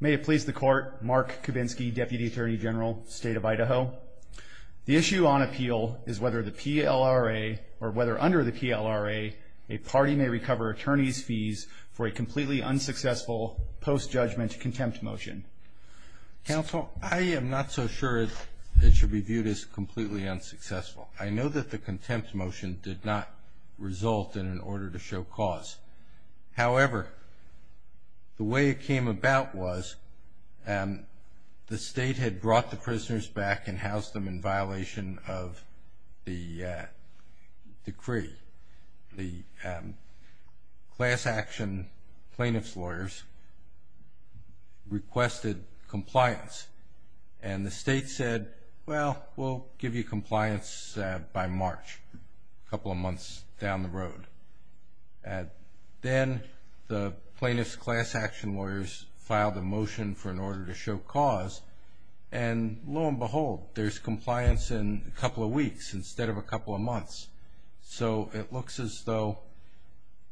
May it please the Court, Mark Kubinski, Deputy Attorney General, State of Idaho. The issue on appeal is whether the PLRA, or whether under the PLRA, a party may recover attorneys' fees for a completely unsuccessful post-judgment contempt motion. Counsel, I am not so sure it should be viewed as completely unsuccessful. I know that the contempt motion did not result in an order to show cause. However, the way it came about was the state had brought the prisoners back and housed them in violation of the decree. The class action plaintiff's lawyers requested compliance, and the state said, well, we'll give you compliance by March, a couple of months down the road. Then the plaintiff's class action lawyers filed a motion for an order to show cause, and lo and behold, there's compliance in a couple of weeks instead of a couple of months. So it looks as though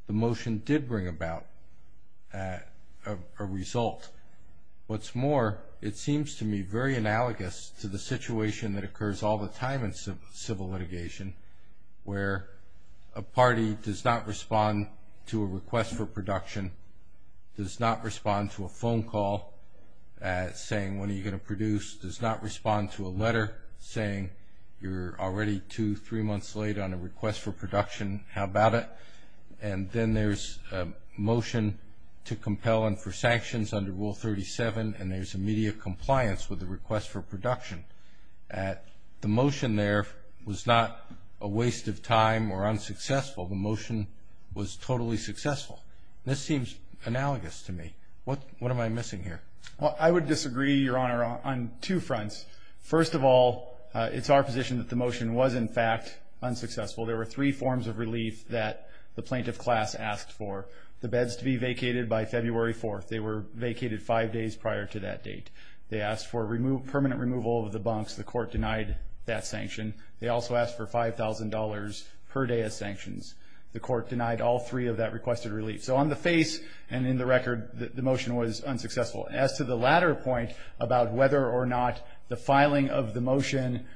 the motion did bring about a result. What's more, it seems to me very analogous to the situation that occurs all the time in civil litigation, where a party does not respond to a request for production, does not respond to a phone call saying, when are you going to produce, does not respond to a letter saying, you're already two, three months late on a request for production, how about it? And then there's a motion to compel and for sanctions under Rule 37, and there's immediate compliance with the request for production. The motion there was not a waste of time or unsuccessful. The motion was totally successful. This seems analogous to me. What am I missing here? Well, I would disagree, Your Honor, on two fronts. First of all, it's our position that the motion was, in fact, unsuccessful. There were three forms of relief that the plaintiff class asked for. The beds to be vacated by February 4th. They were vacated five days prior to that date. They asked for permanent removal of the bunks. The court denied that sanction. They also asked for $5,000 per day of sanctions. The court denied all three of that requested relief. So on the face and in the record, the motion was unsuccessful. As to the latter point about whether or not the filing of the motion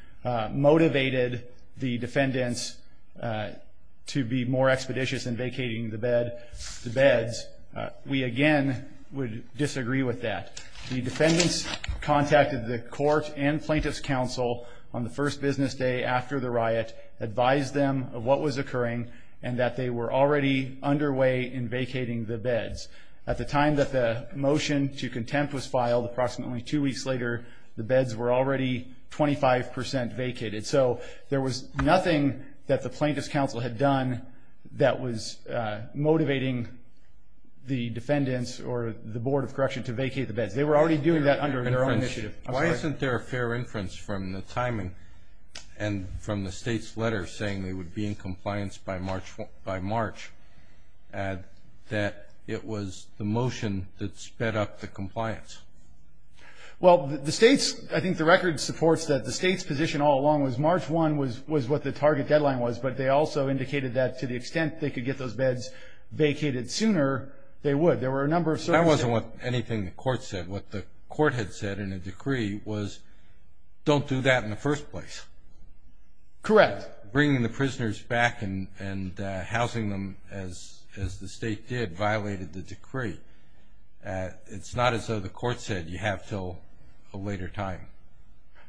motivated the defendants to be more expeditious in vacating the beds, we, again, would disagree with that. The defendants contacted the court and plaintiff's counsel on the first business day after the riot, advised them of what was occurring, and that they were already underway in vacating the beds. At the time that the motion to contempt was filed, approximately two weeks later, the beds were already 25% vacated. So there was nothing that the plaintiff's counsel had done that was motivating the defendants or the Board of Correction to vacate the beds. They were already doing that under their own initiative. Why isn't there a fair inference from the timing and from the state's letter saying they would be in compliance by March that it was the motion that sped up the compliance? Well, the state's, I think the record supports that the state's position all along was March 1 was what the target deadline was, but they also indicated that to the extent they could get those beds vacated sooner, they would. There were a number of circumstances. That wasn't what anything the court said. What the court had said in a decree was don't do that in the first place. Correct. But bringing the prisoners back and housing them as the state did violated the decree. It's not as though the court said you have until a later time.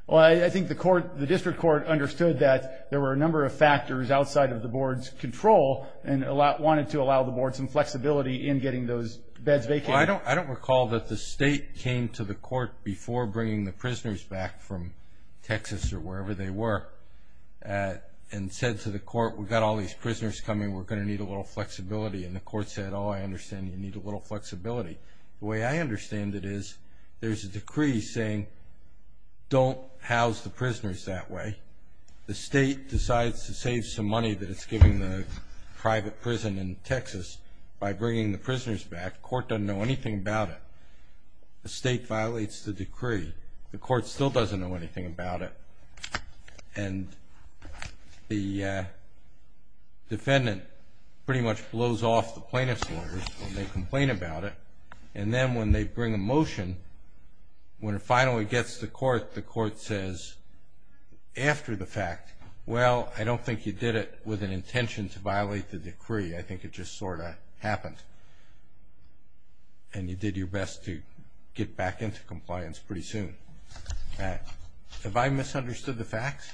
Well, I think the district court understood that there were a number of factors outside of the board's control and wanted to allow the board some flexibility in getting those beds vacated. I don't recall that the state came to the court before bringing the prisoners back from Texas or wherever they were and said to the court, we've got all these prisoners coming. We're going to need a little flexibility. And the court said, oh, I understand you need a little flexibility. The way I understand it is there's a decree saying don't house the prisoners that way. The state decides to save some money that it's giving the private prison in Texas by bringing the prisoners back. The court doesn't know anything about it. The state violates the decree. The court still doesn't know anything about it. And the defendant pretty much blows off the plaintiff's orders when they complain about it. And then when they bring a motion, when it finally gets to court, the court says after the fact, well, I don't think you did it with an intention to violate the decree. I think it just sort of happened. And you did your best to get back into compliance pretty soon. Have I misunderstood the facts?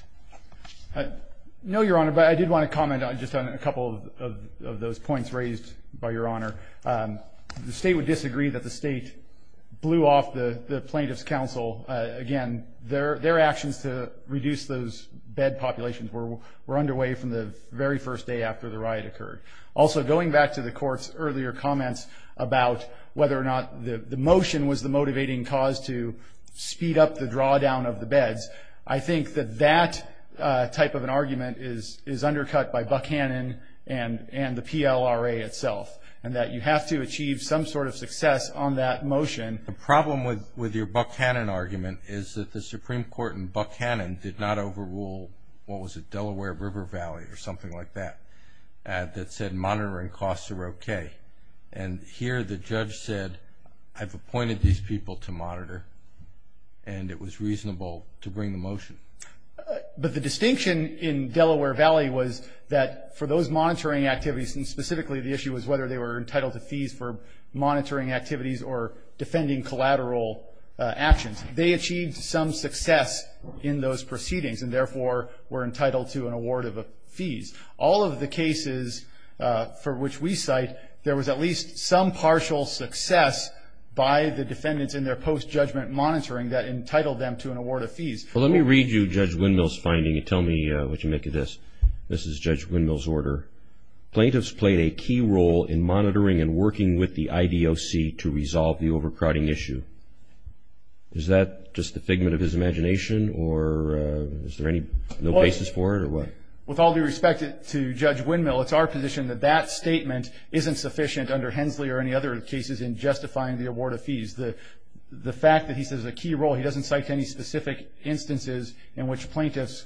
No, Your Honor, but I did want to comment on just a couple of those points raised by Your Honor. The state would disagree that the state blew off the plaintiff's counsel. Again, their actions to reduce those bed populations were underway from the very first day after the riot occurred. Also, going back to the court's earlier comments about whether or not the motion was the motivating cause to speed up the drawdown of the beds, I think that that type of an argument is undercut by Buckhannon and the PLRA itself, and that you have to achieve some sort of success on that motion. The problem with your Buckhannon argument is that the Supreme Court in Buckhannon did not overrule, what was it, Delaware River Valley or something like that, that said monitoring costs are okay. And here the judge said, I've appointed these people to monitor, and it was reasonable to bring the motion. But the distinction in Delaware Valley was that for those monitoring activities, and specifically the issue was whether they were entitled to fees for monitoring activities or defending collateral actions, they achieved some success in those proceedings and therefore were entitled to an award of fees. All of the cases for which we cite, there was at least some partial success by the defendants in their post-judgment monitoring that entitled them to an award of fees. Well, let me read you Judge Windmill's finding and tell me what you make of this. This is Judge Windmill's order. Plaintiffs played a key role in monitoring and working with the IDOC to resolve the overcrowding issue. Is that just the figment of his imagination, or is there no basis for it, or what? With all due respect to Judge Windmill, it's our position that that statement isn't sufficient under Hensley or any other cases in justifying the award of fees. The fact that he says a key role, he doesn't cite any specific instances in which plaintiffs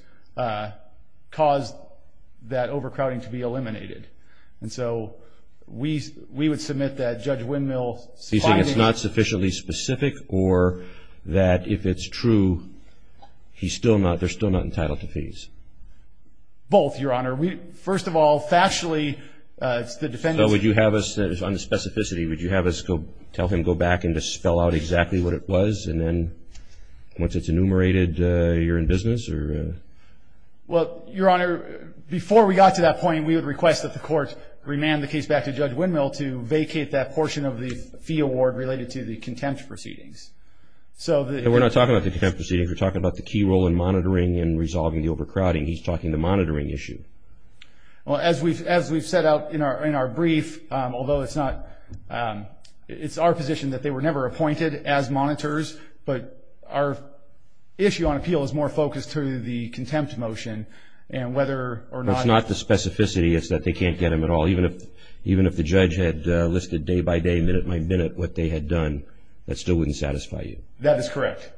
caused that overcrowding to be eliminated. And so we would submit that Judge Windmill's finding. So you're saying it's not sufficiently specific or that if it's true, he's still not, they're still not entitled to fees? Both, Your Honor. First of all, factually, it's the defendants. So would you have us, on the specificity, would you have us tell him to go back and to spell out exactly what it was, and then once it's enumerated, you're in business? Well, Your Honor, before we got to that point, we would request that the court remand the case back to Judge Windmill to vacate that portion of the fee award related to the contempt proceedings. We're not talking about the contempt proceedings. We're talking about the key role in monitoring and resolving the overcrowding. He's talking the monitoring issue. Well, as we've set out in our brief, although it's not, it's our position that they were never appointed as monitors, but our issue on appeal is more focused to the contempt motion, and whether or not. It's not the specificity. It's that they can't get them at all. Even if the judge had listed day by day, minute by minute, what they had done, that still wouldn't satisfy you. That is correct.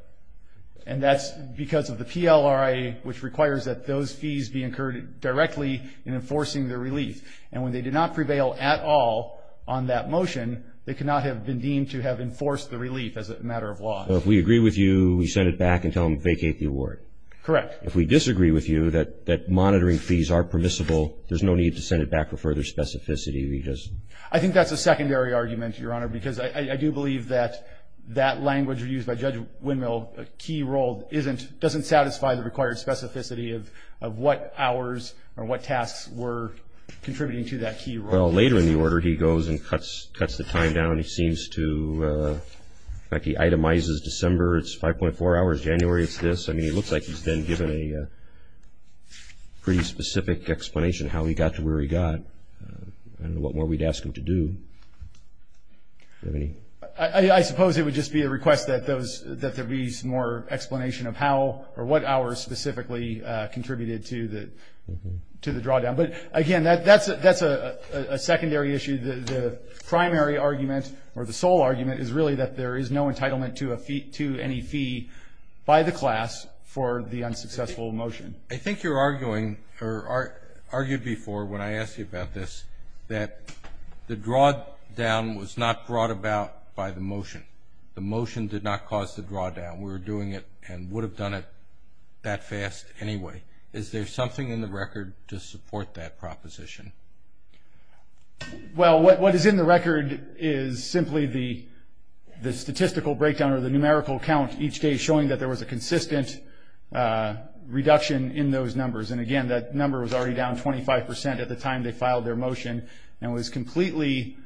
And that's because of the PLRA, which requires that those fees be incurred directly in enforcing the relief. And when they did not prevail at all on that motion, they could not have been deemed to have enforced the relief as a matter of law. So if we agree with you, we send it back and tell them to vacate the award? Correct. If we disagree with you that monitoring fees are permissible, there's no need to send it back for further specificity? I think that's a secondary argument, Your Honor, because I do believe that that language used by Judge Windmill, a key role, doesn't satisfy the required specificity of what hours or what tasks were contributing to that key role. Well, later in the order he goes and cuts the time down. He seems to, like he itemizes December, it's 5.4 hours, January it's this. I mean, it looks like he's then given a pretty specific explanation of how he got to where he got and what more we'd ask him to do. Do you have any? I suppose it would just be a request that there be more explanation of how or what hours specifically contributed to the drawdown. But, again, that's a secondary issue. The primary argument or the sole argument is really that there is no entitlement to any fee by the class for the unsuccessful motion. I think you're arguing or argued before when I asked you about this that the drawdown was not brought about by the motion. The motion did not cause the drawdown. We were doing it and would have done it that fast anyway. Is there something in the record to support that proposition? Well, what is in the record is simply the statistical breakdown or the numerical count each day showing that there was a consistent reduction in those numbers. And, again, that number was already down 25% at the time they filed their motion and was completely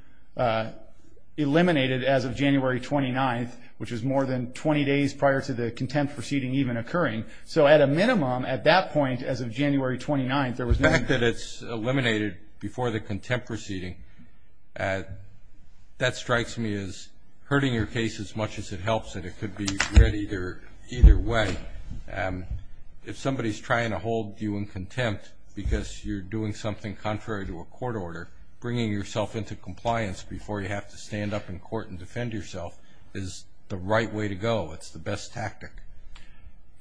eliminated as of January 29th, which was more than 20 days prior to the contempt proceeding even occurring. So at a minimum at that point, as of January 29th, there was no- The fact that it's eliminated before the contempt proceeding, that strikes me as hurting your case as much as it helps it. It could be read either way. If somebody is trying to hold you in contempt because you're doing something contrary to a court order, bringing yourself into compliance before you have to stand up in court and defend yourself is the right way to go. It's the best tactic.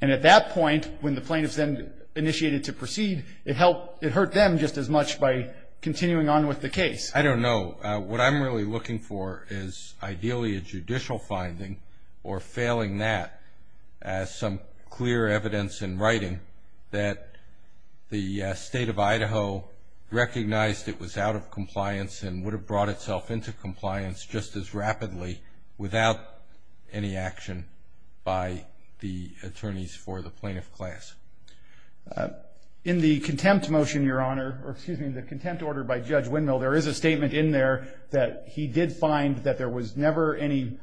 And at that point, when the plaintiffs then initiated to proceed, it hurt them just as much by continuing on with the case. I don't know. What I'm really looking for is ideally a judicial finding or failing that as some clear evidence in writing that the state of Idaho recognized it was out of compliance and would have brought itself into compliance just as rapidly without any action by the attorneys for the plaintiff class. In the contempt motion, Your Honor, or excuse me, the contempt order by Judge Windmill, there is a statement in there that he did find that there was never any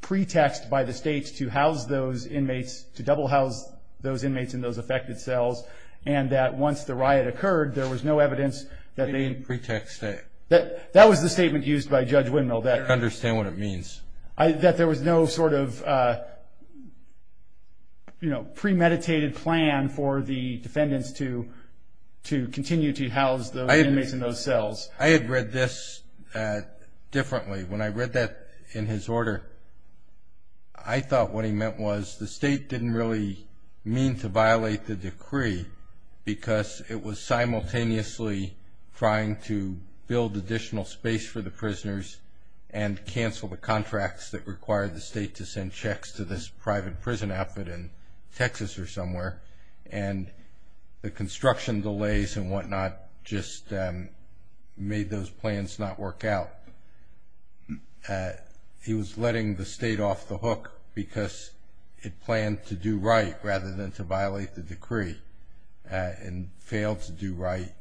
pretext by the state to house those inmates, to double house those inmates in those affected cells, and that once the riot occurred, there was no evidence that they had pretexted. That was the statement used by Judge Windmill. I don't understand what it means. That there was no sort of premeditated plan for the defendants to continue to house the inmates in those cells. I had read this differently. When I read that in his order, I thought what he meant was the state didn't really mean to violate the decree because it was simultaneously trying to build additional space for the prisoners and cancel the contracts that required the state to send checks to this private prison outfit in Texas or somewhere. And the construction delays and whatnot just made those plans not work out. He was letting the state off the hook because it planned to do right rather than to violate the decree and failed to do right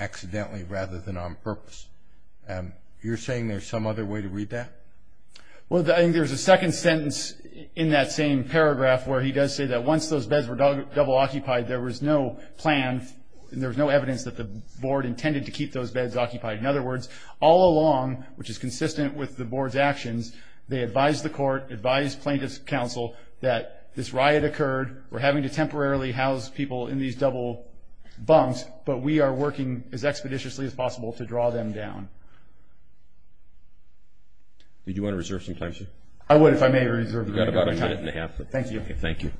accidentally rather than on purpose. You're saying there's some other way to read that? Well, I think there's a second sentence in that same paragraph where he does say that once those beds were double occupied, there was no plan and there was no evidence that the board intended to keep those beds occupied. In other words, all along, which is consistent with the board's actions, they advised the court, advised plaintiff's counsel that this riot occurred, we're having to temporarily house people in these double bunks, but we are working as expeditiously as possible to draw them down. Would you want to reserve some time, sir? I would if I may reserve my time. You've got about a minute and a half. Thank you. Thank you.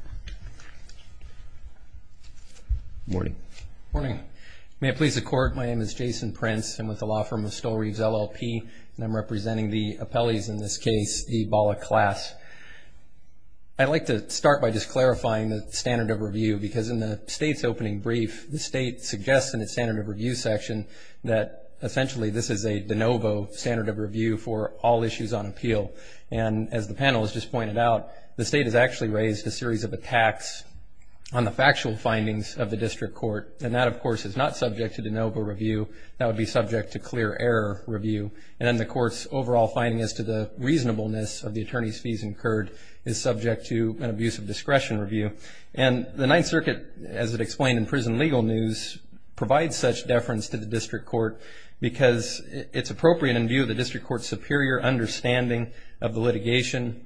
Good morning. Good morning. May it please the Court, my name is Jason Prince. I'm with the law firm of Stoll Reeves, LLP, and I'm representing the appellees in this case, the Bala class. I'd like to start by just clarifying the standard of review because in the state's opening brief, the state suggests in its standard of review section that essentially this is a de novo standard of review for all issues on appeal. And as the panel has just pointed out, the state has actually raised a series of attacks on the factual findings of the district court, and that, of course, is not subject to de novo review. That would be subject to clear error review. And then the court's overall finding as to the reasonableness of the attorney's fees incurred is subject to an abuse of discretion review. And the Ninth Circuit, as it explained in prison legal news, provides such deference to the district court because it's appropriate in view of the district court's superior understanding of the litigation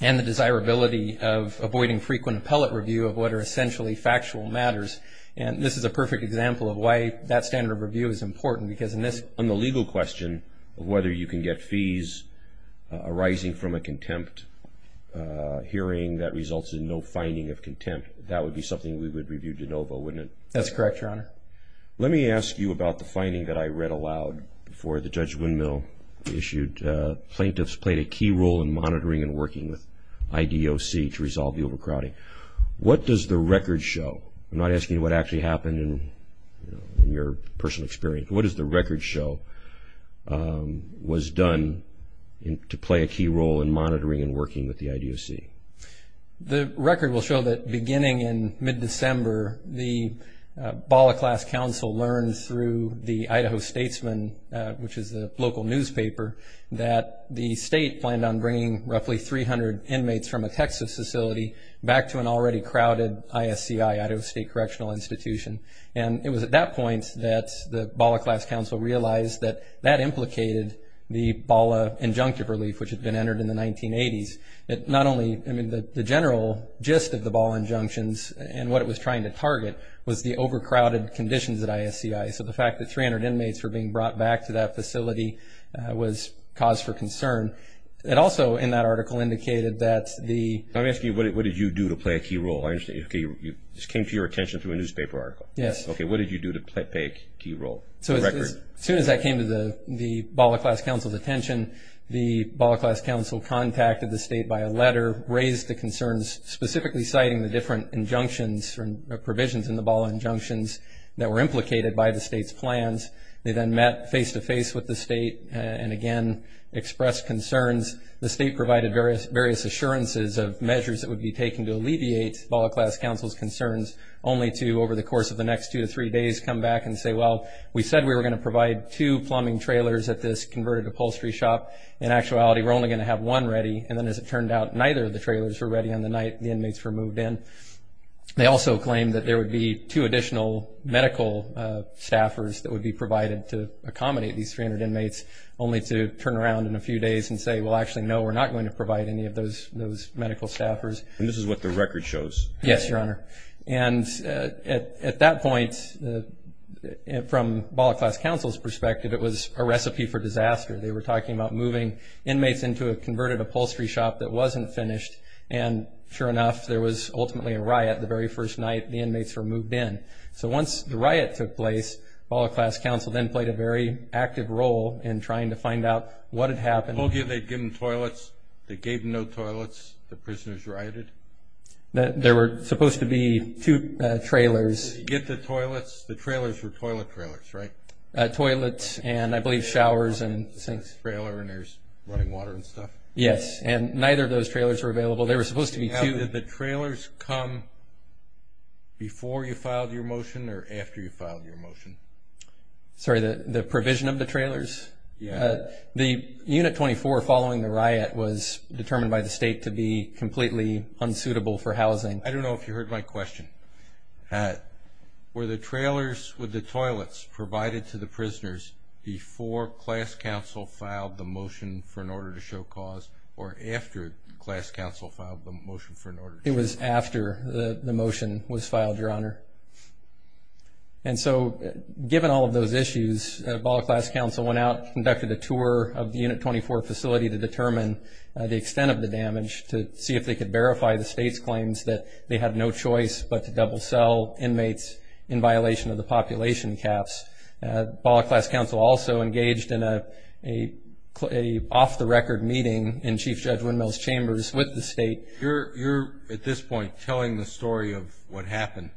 and the desirability of avoiding frequent appellate review of what are essentially factual matters. And this is a perfect example of why that standard of review is important, because on the legal question of whether you can get fees arising from a contempt hearing that results in no finding of contempt, that would be something we would review de novo, wouldn't it? That's correct, Your Honor. Let me ask you about the finding that I read aloud before the Judge Windmill issued. Plaintiffs played a key role in monitoring and working with IDOC to resolve the overcrowding. What does the record show? I'm not asking what actually happened in your personal experience. What does the record show was done to play a key role in monitoring and working with the IDOC? The record will show that beginning in mid-December, the BALA class counsel learned through the Idaho Statesman, which is a local newspaper, that the state planned on bringing roughly 300 inmates from a Texas facility back to an already crowded ISCI, Idaho State Correctional Institution. And it was at that point that the BALA class counsel realized that that implicated the BALA injunctive relief, which had been entered in the 1980s. Not only, I mean, the general gist of the BALA injunctions and what it was trying to target was the overcrowded conditions at ISCI. So the fact that 300 inmates were being brought back to that facility was cause for concern. It also, in that article, indicated that the... Let me ask you, what did you do to play a key role? I understand, okay, this came to your attention through a newspaper article. Yes. Okay, what did you do to play a key role? So as soon as that came to the BALA class counsel's attention, the BALA class counsel contacted the state by a letter, raised the concerns, specifically citing the different injunctions or provisions in the BALA injunctions that were implicated by the state's plans. They then met face-to-face with the state and, again, expressed concerns. The state provided various assurances of measures that would be taken to alleviate BALA class counsel's concerns, only to, over the course of the next two to three days, come back and say, well, we said we were going to provide two plumbing trailers at this converted upholstery shop. In actuality, we're only going to have one ready. And then as it turned out, neither of the trailers were ready on the night the inmates were moved in. They also claimed that there would be two additional medical staffers that would be provided to accommodate these 300 inmates, only to turn around in a few days and say, well, actually, no, we're not going to provide any of those medical staffers. And this is what the record shows? Yes, Your Honor. And at that point, from BALA class counsel's perspective, it was a recipe for disaster. They were talking about moving inmates into a converted upholstery shop that wasn't finished. And sure enough, there was ultimately a riot the very first night the inmates were moved in. So once the riot took place, BALA class counsel then played a very active role in trying to find out what had happened. They gave them toilets. They gave them no toilets. The prisoners rioted. There were supposed to be two trailers. Did you get the toilets? The trailers were toilet trailers, right? Toilets and I believe showers and sinks. Trailer and there's running water and stuff. Yes, and neither of those trailers were available. They were supposed to be two. Did the trailers come before you filed your motion or after you filed your motion? Sorry, the provision of the trailers? Yes. The Unit 24 following the riot was determined by the state to be completely unsuitable for housing. I don't know if you heard my question. Were the trailers with the toilets provided to the prisoners before class counsel filed the motion for an order to show cause or after class counsel filed the motion for an order to show cause? It was after the motion was filed, Your Honor. And so given all of those issues, ball class counsel went out and conducted a tour of the Unit 24 facility to determine the extent of the damage to see if they could verify the state's claims that they had no choice but to double sell inmates in violation of the population caps. Ball class counsel also engaged in an off-the-record meeting in Chief Judge Windmill's chambers with the state. You're at this point telling the story of what happened,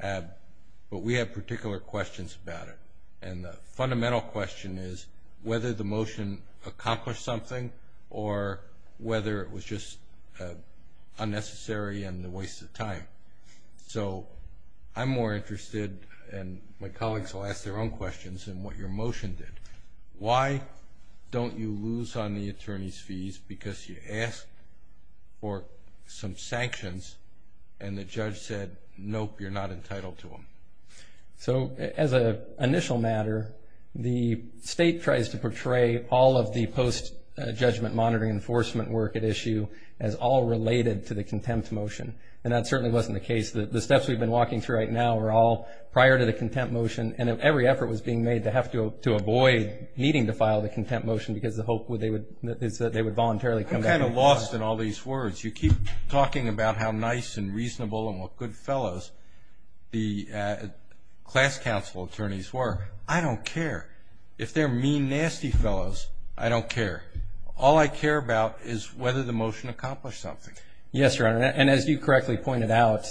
but we have particular questions about it. And the fundamental question is whether the motion accomplished something or whether it was just unnecessary and a waste of time. So I'm more interested, and my colleagues will ask their own questions, in what your motion did. Why don't you lose on the attorney's fees because you asked for some sanctions and the judge said, nope, you're not entitled to them? So as an initial matter, the state tries to portray all of the post-judgment monitoring enforcement work at issue as all related to the contempt motion. And that certainly wasn't the case. The steps we've been walking through right now were all prior to the contempt motion, and every effort was being made to have to avoid needing to file the contempt motion because the hope is that they would voluntarily come back. I'm kind of lost in all these words. You keep talking about how nice and reasonable and what good fellows the class counsel attorneys were. I don't care. If they're mean, nasty fellows, I don't care. All I care about is whether the motion accomplished something. Yes, Your Honor, and as you correctly pointed out,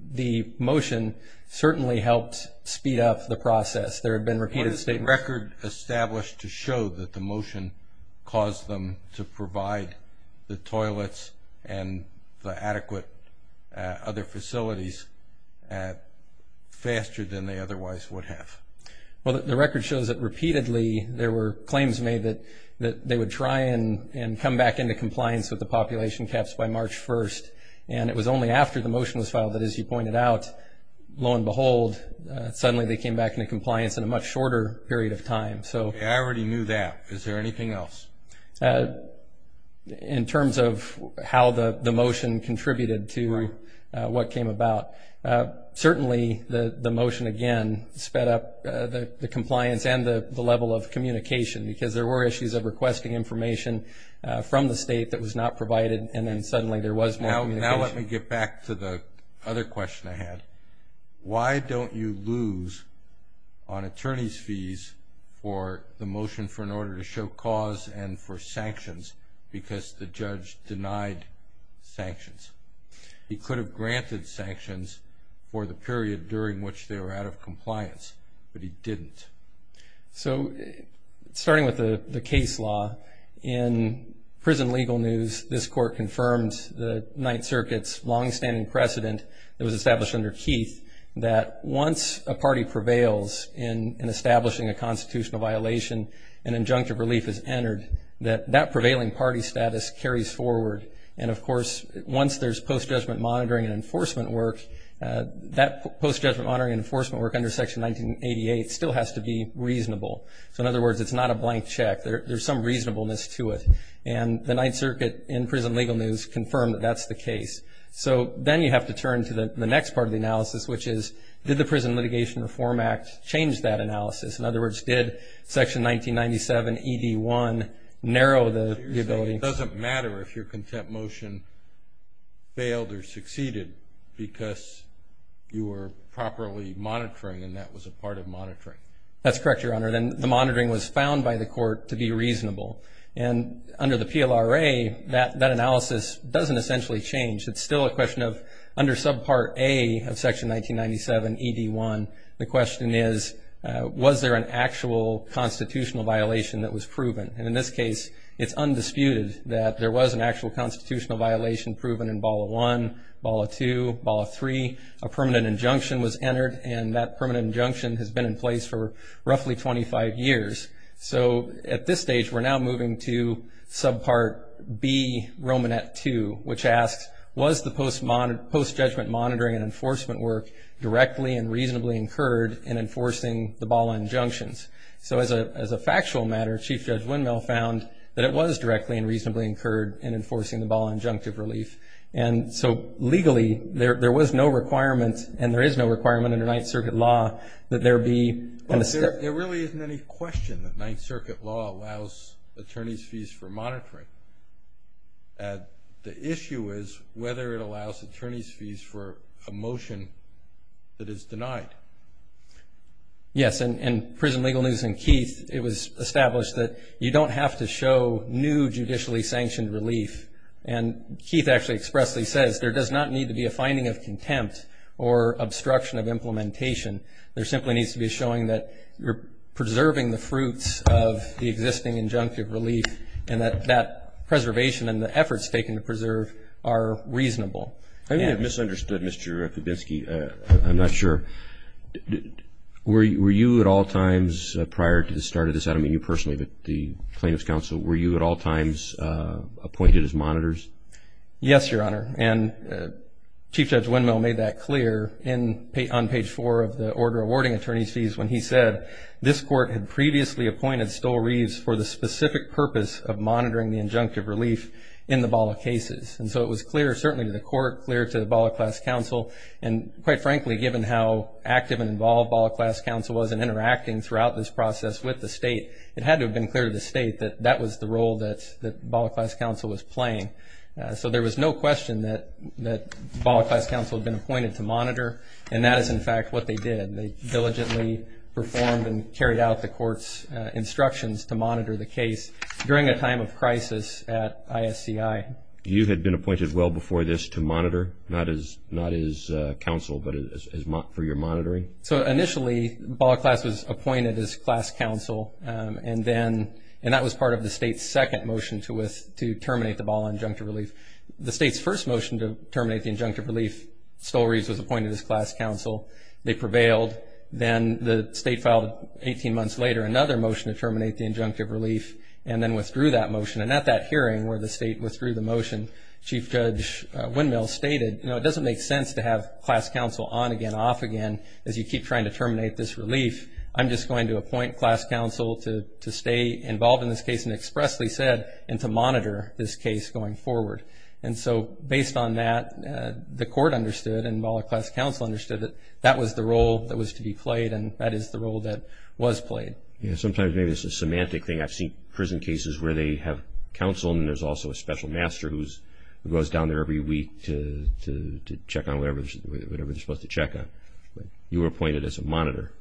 the motion certainly helped speed up the process. There have been repeated statements. What is the record established to show that the motion caused them to provide the toilets and the adequate other facilities faster than they otherwise would have? Well, the record shows that repeatedly there were claims made that they would try and come back into compliance with the population caps by March 1st, and it was only after the motion was filed that, as you pointed out, lo and behold, suddenly they came back into compliance in a much shorter period of time. I already knew that. Is there anything else? In terms of how the motion contributed to what came about, certainly the motion, again, sped up the compliance and the level of communication because there were issues of requesting information from the state that was not provided, and then suddenly there was more communication. Now let me get back to the other question I had. Why don't you lose on attorney's fees for the motion for an order to show cause and for sanctions because the judge denied sanctions? He could have granted sanctions for the period during which they were out of compliance, but he didn't. So starting with the case law, in prison legal news, this Court confirmed the Ninth Circuit's longstanding precedent that was established under Keith that once a party prevails in establishing a constitutional violation, an injunctive relief is entered, that that prevailing party status carries forward. And, of course, once there's post-judgment monitoring and enforcement work, that post-judgment monitoring and enforcement work under Section 1988 still has to be reasonable. So, in other words, it's not a blank check. There's some reasonableness to it. And the Ninth Circuit in prison legal news confirmed that that's the case. So then you have to turn to the next part of the analysis, which is, did the Prison Litigation Reform Act change that analysis? In other words, did Section 1997 ED1 narrow the ability? It doesn't matter if your contempt motion failed or succeeded because you were properly monitoring and that was a part of monitoring. That's correct, Your Honor, and the monitoring was found by the Court to be reasonable. And under the PLRA, that analysis doesn't essentially change. It's still a question of under Subpart A of Section 1997 ED1, the question is, was there an actual constitutional violation that was proven? And in this case, it's undisputed that there was an actual constitutional violation proven in BALA 1, BALA 2, BALA 3. A permanent injunction was entered, and that permanent injunction has been in place for roughly 25 years. So, at this stage, we're now moving to Subpart B, Romanet 2, which asks, was the post-judgment monitoring and enforcement work directly and reasonably incurred in enforcing the BALA injunctions? So, as a factual matter, Chief Judge Windmill found that it was directly and reasonably incurred in enforcing the BALA injunctive relief. And so, legally, there was no requirement, and there is no requirement under Ninth Circuit law, that there be a step. Well, there really isn't any question that Ninth Circuit law allows attorney's fees for monitoring. The issue is whether it allows attorney's fees for a motion that is denied. Yes, and in Prison Legal News and Keith, it was established that you don't have to show new judicially sanctioned relief. And Keith actually expressly says there does not need to be a finding of contempt or obstruction of implementation. There simply needs to be a showing that you're preserving the fruits of the existing injunctive relief and that that preservation and the efforts taken to preserve are reasonable. I may have misunderstood, Mr. Kubinski. I'm not sure. Were you at all times prior to the start of this, I don't mean you personally, but the plaintiff's counsel, were you at all times appointed as monitors? Yes, Your Honor, and Chief Judge Windmill made that clear on page four of the order awarding attorney's fees when he said, this court had previously appointed Stowe Reeves for the specific purpose of monitoring the injunctive relief in the BALA cases. And so it was clear certainly to the court, clear to the BALA class counsel, and quite frankly given how active and involved BALA class counsel was in interacting throughout this process with the state, it had to have been clear to the state that that was the role that BALA class counsel was playing. So there was no question that BALA class counsel had been appointed to monitor, and that is in fact what they did. They diligently performed and carried out the court's instructions to monitor the case during a time of crisis at ISCI. You had been appointed well before this to monitor, not as counsel, but for your monitoring? So initially BALA class was appointed as class counsel, and that was part of the state's second motion to terminate the BALA injunctive relief. The state's first motion to terminate the injunctive relief, Stowe Reeves was appointed as class counsel. They prevailed. Then the state filed 18 months later another motion to terminate the injunctive relief and then withdrew that motion. And at that hearing where the state withdrew the motion, Chief Judge Windmill stated, you know, it doesn't make sense to have class counsel on again, off again, as you keep trying to terminate this relief. I'm just going to appoint class counsel to stay involved in this case, and expressly said, and to monitor this case going forward. And so based on that, the court understood, and BALA class counsel understood, that that was the role that was to be played, and that is the role that was played. Yeah, sometimes maybe it's a semantic thing. I've seen prison cases where they have counsel, and then there's also a special master who goes down there every week to check on whatever they're supposed to check on. But you were appointed as a monitor.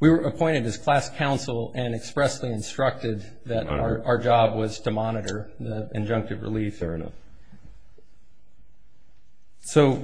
We were appointed as class counsel and expressly instructed that our job was to monitor the injunctive relief. Fair enough. So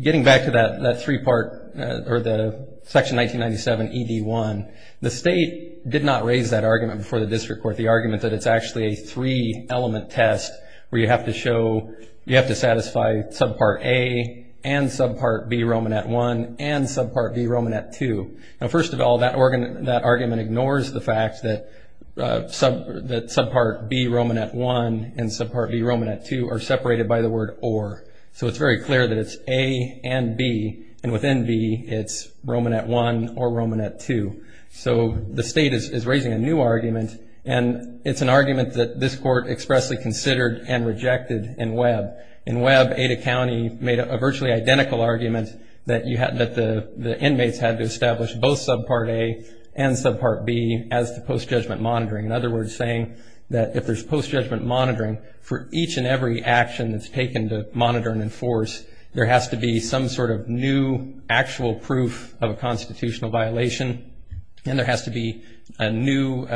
getting back to that three-part, or the Section 1997ED1, the state did not raise that argument before the district court, the argument that it's actually a three-element test where you have to show, you have to satisfy Subpart A and Subpart B Romanet I and Subpart B Romanet II. Now, first of all, that argument ignores the fact that Subpart B Romanet I and Subpart B Romanet II are separated by the word or. So it's very clear that it's A and B, and within B it's Romanet I or Romanet II. So the state is raising a new argument, and it's an argument that this court expressly considered and rejected in Webb. In Webb, Ada County made a virtually identical argument that the inmates had to establish both Subpart A and Subpart B as the post-judgment monitoring, in other words, saying that if there's post-judgment monitoring for each and every action that's taken to monitor and enforce, there has to be some sort of new actual proof of a constitutional violation, and there has to be a new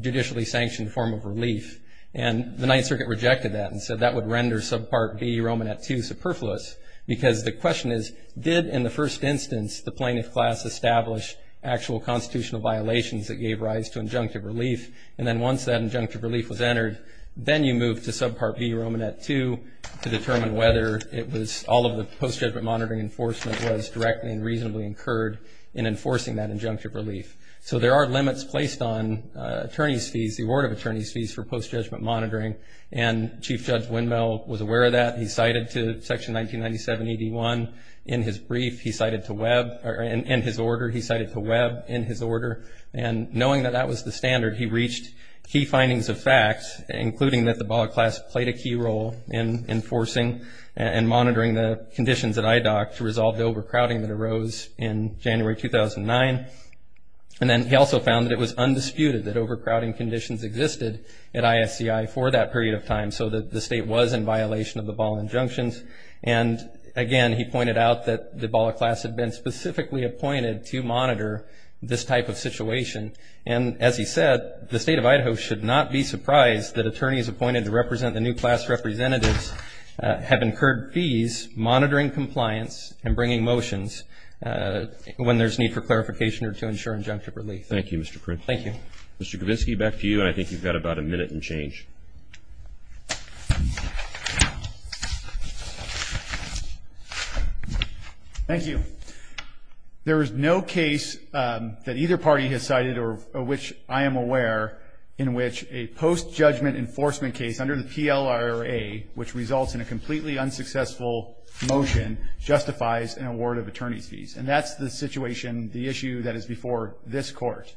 judicially sanctioned form of relief. And the Ninth Circuit rejected that and said that would render Subpart B Romanet II superfluous, because the question is, did, in the first instance, the plaintiff class establish actual constitutional violations that gave rise to injunctive relief? And then once that injunctive relief was entered, then you move to Subpart B Romanet II to determine whether all of the post-judgment monitoring enforcement was directly and reasonably incurred in enforcing that injunctive relief. So there are limits placed on attorneys' fees, the award of attorneys' fees for post-judgment monitoring, and Chief Judge Windmill was aware of that. He cited to Section 1997-81 in his brief. He cited to Webb in his order. And knowing that that was the standard, he reached key findings of facts, including that the BALA class played a key role in enforcing and monitoring the conditions at IDOC to resolve the overcrowding that arose in January 2009. And then he also found that it was undisputed that overcrowding conditions existed at ISCI for that period of time, so that the state was in violation of the BALA injunctions. And, again, he pointed out that the BALA class had been specifically appointed to monitor this type of situation. And, as he said, the State of Idaho should not be surprised that attorneys appointed to represent the new class representatives have incurred fees monitoring compliance and bringing motions when there's need for clarification or to ensure injunctive relief. Thank you, Mr. Print. Thank you. Mr. Kavinsky, back to you, and I think you've got about a minute and change. Thank you. There is no case that either party has cited, or of which I am aware, in which a post-judgment enforcement case under the PLRA, which results in a completely unsuccessful motion, justifies an award of attorney's fees. And that's the situation, the issue that is before this Court.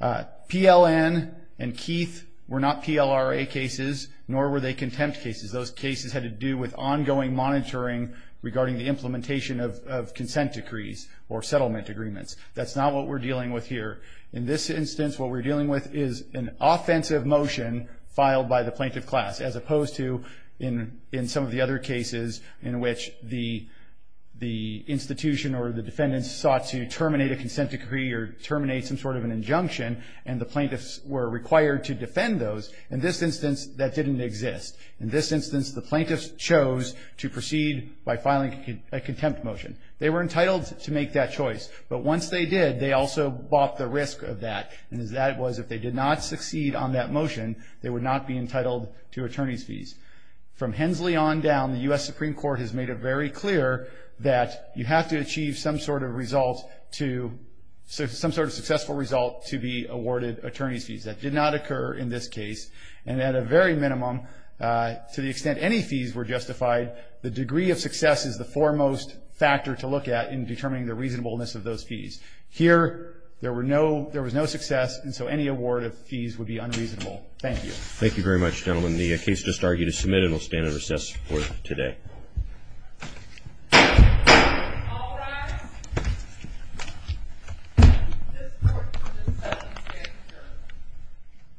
PLN and Keith were not PLRA cases, nor were they contempt cases. Those cases had to do with ongoing monitoring regarding the implementation of consent decrees or settlement agreements. That's not what we're dealing with here. In this instance, what we're dealing with is an offensive motion filed by the plaintiff class, as opposed to in some of the other cases in which the institution or the defendant sought to terminate a consent decree or terminate some sort of an injunction, and the plaintiffs were required to defend those. In this instance, that didn't exist. In this instance, the plaintiffs chose to proceed by filing a contempt motion. They were entitled to make that choice. But once they did, they also bought the risk of that, and that was if they did not succeed on that motion, they would not be entitled to attorney's fees. From Hensley on down, the U.S. Supreme Court has made it very clear that you have to achieve some sort of successful result to be awarded attorney's fees. That did not occur in this case. And at a very minimum, to the extent any fees were justified, the degree of success is the foremost factor to look at in determining the reasonableness of those fees. Here, there was no success, and so any award of fees would be unreasonable. Thank you. Thank you very much, gentlemen. The case just argued is submitted and will stand in recess for today. All rise.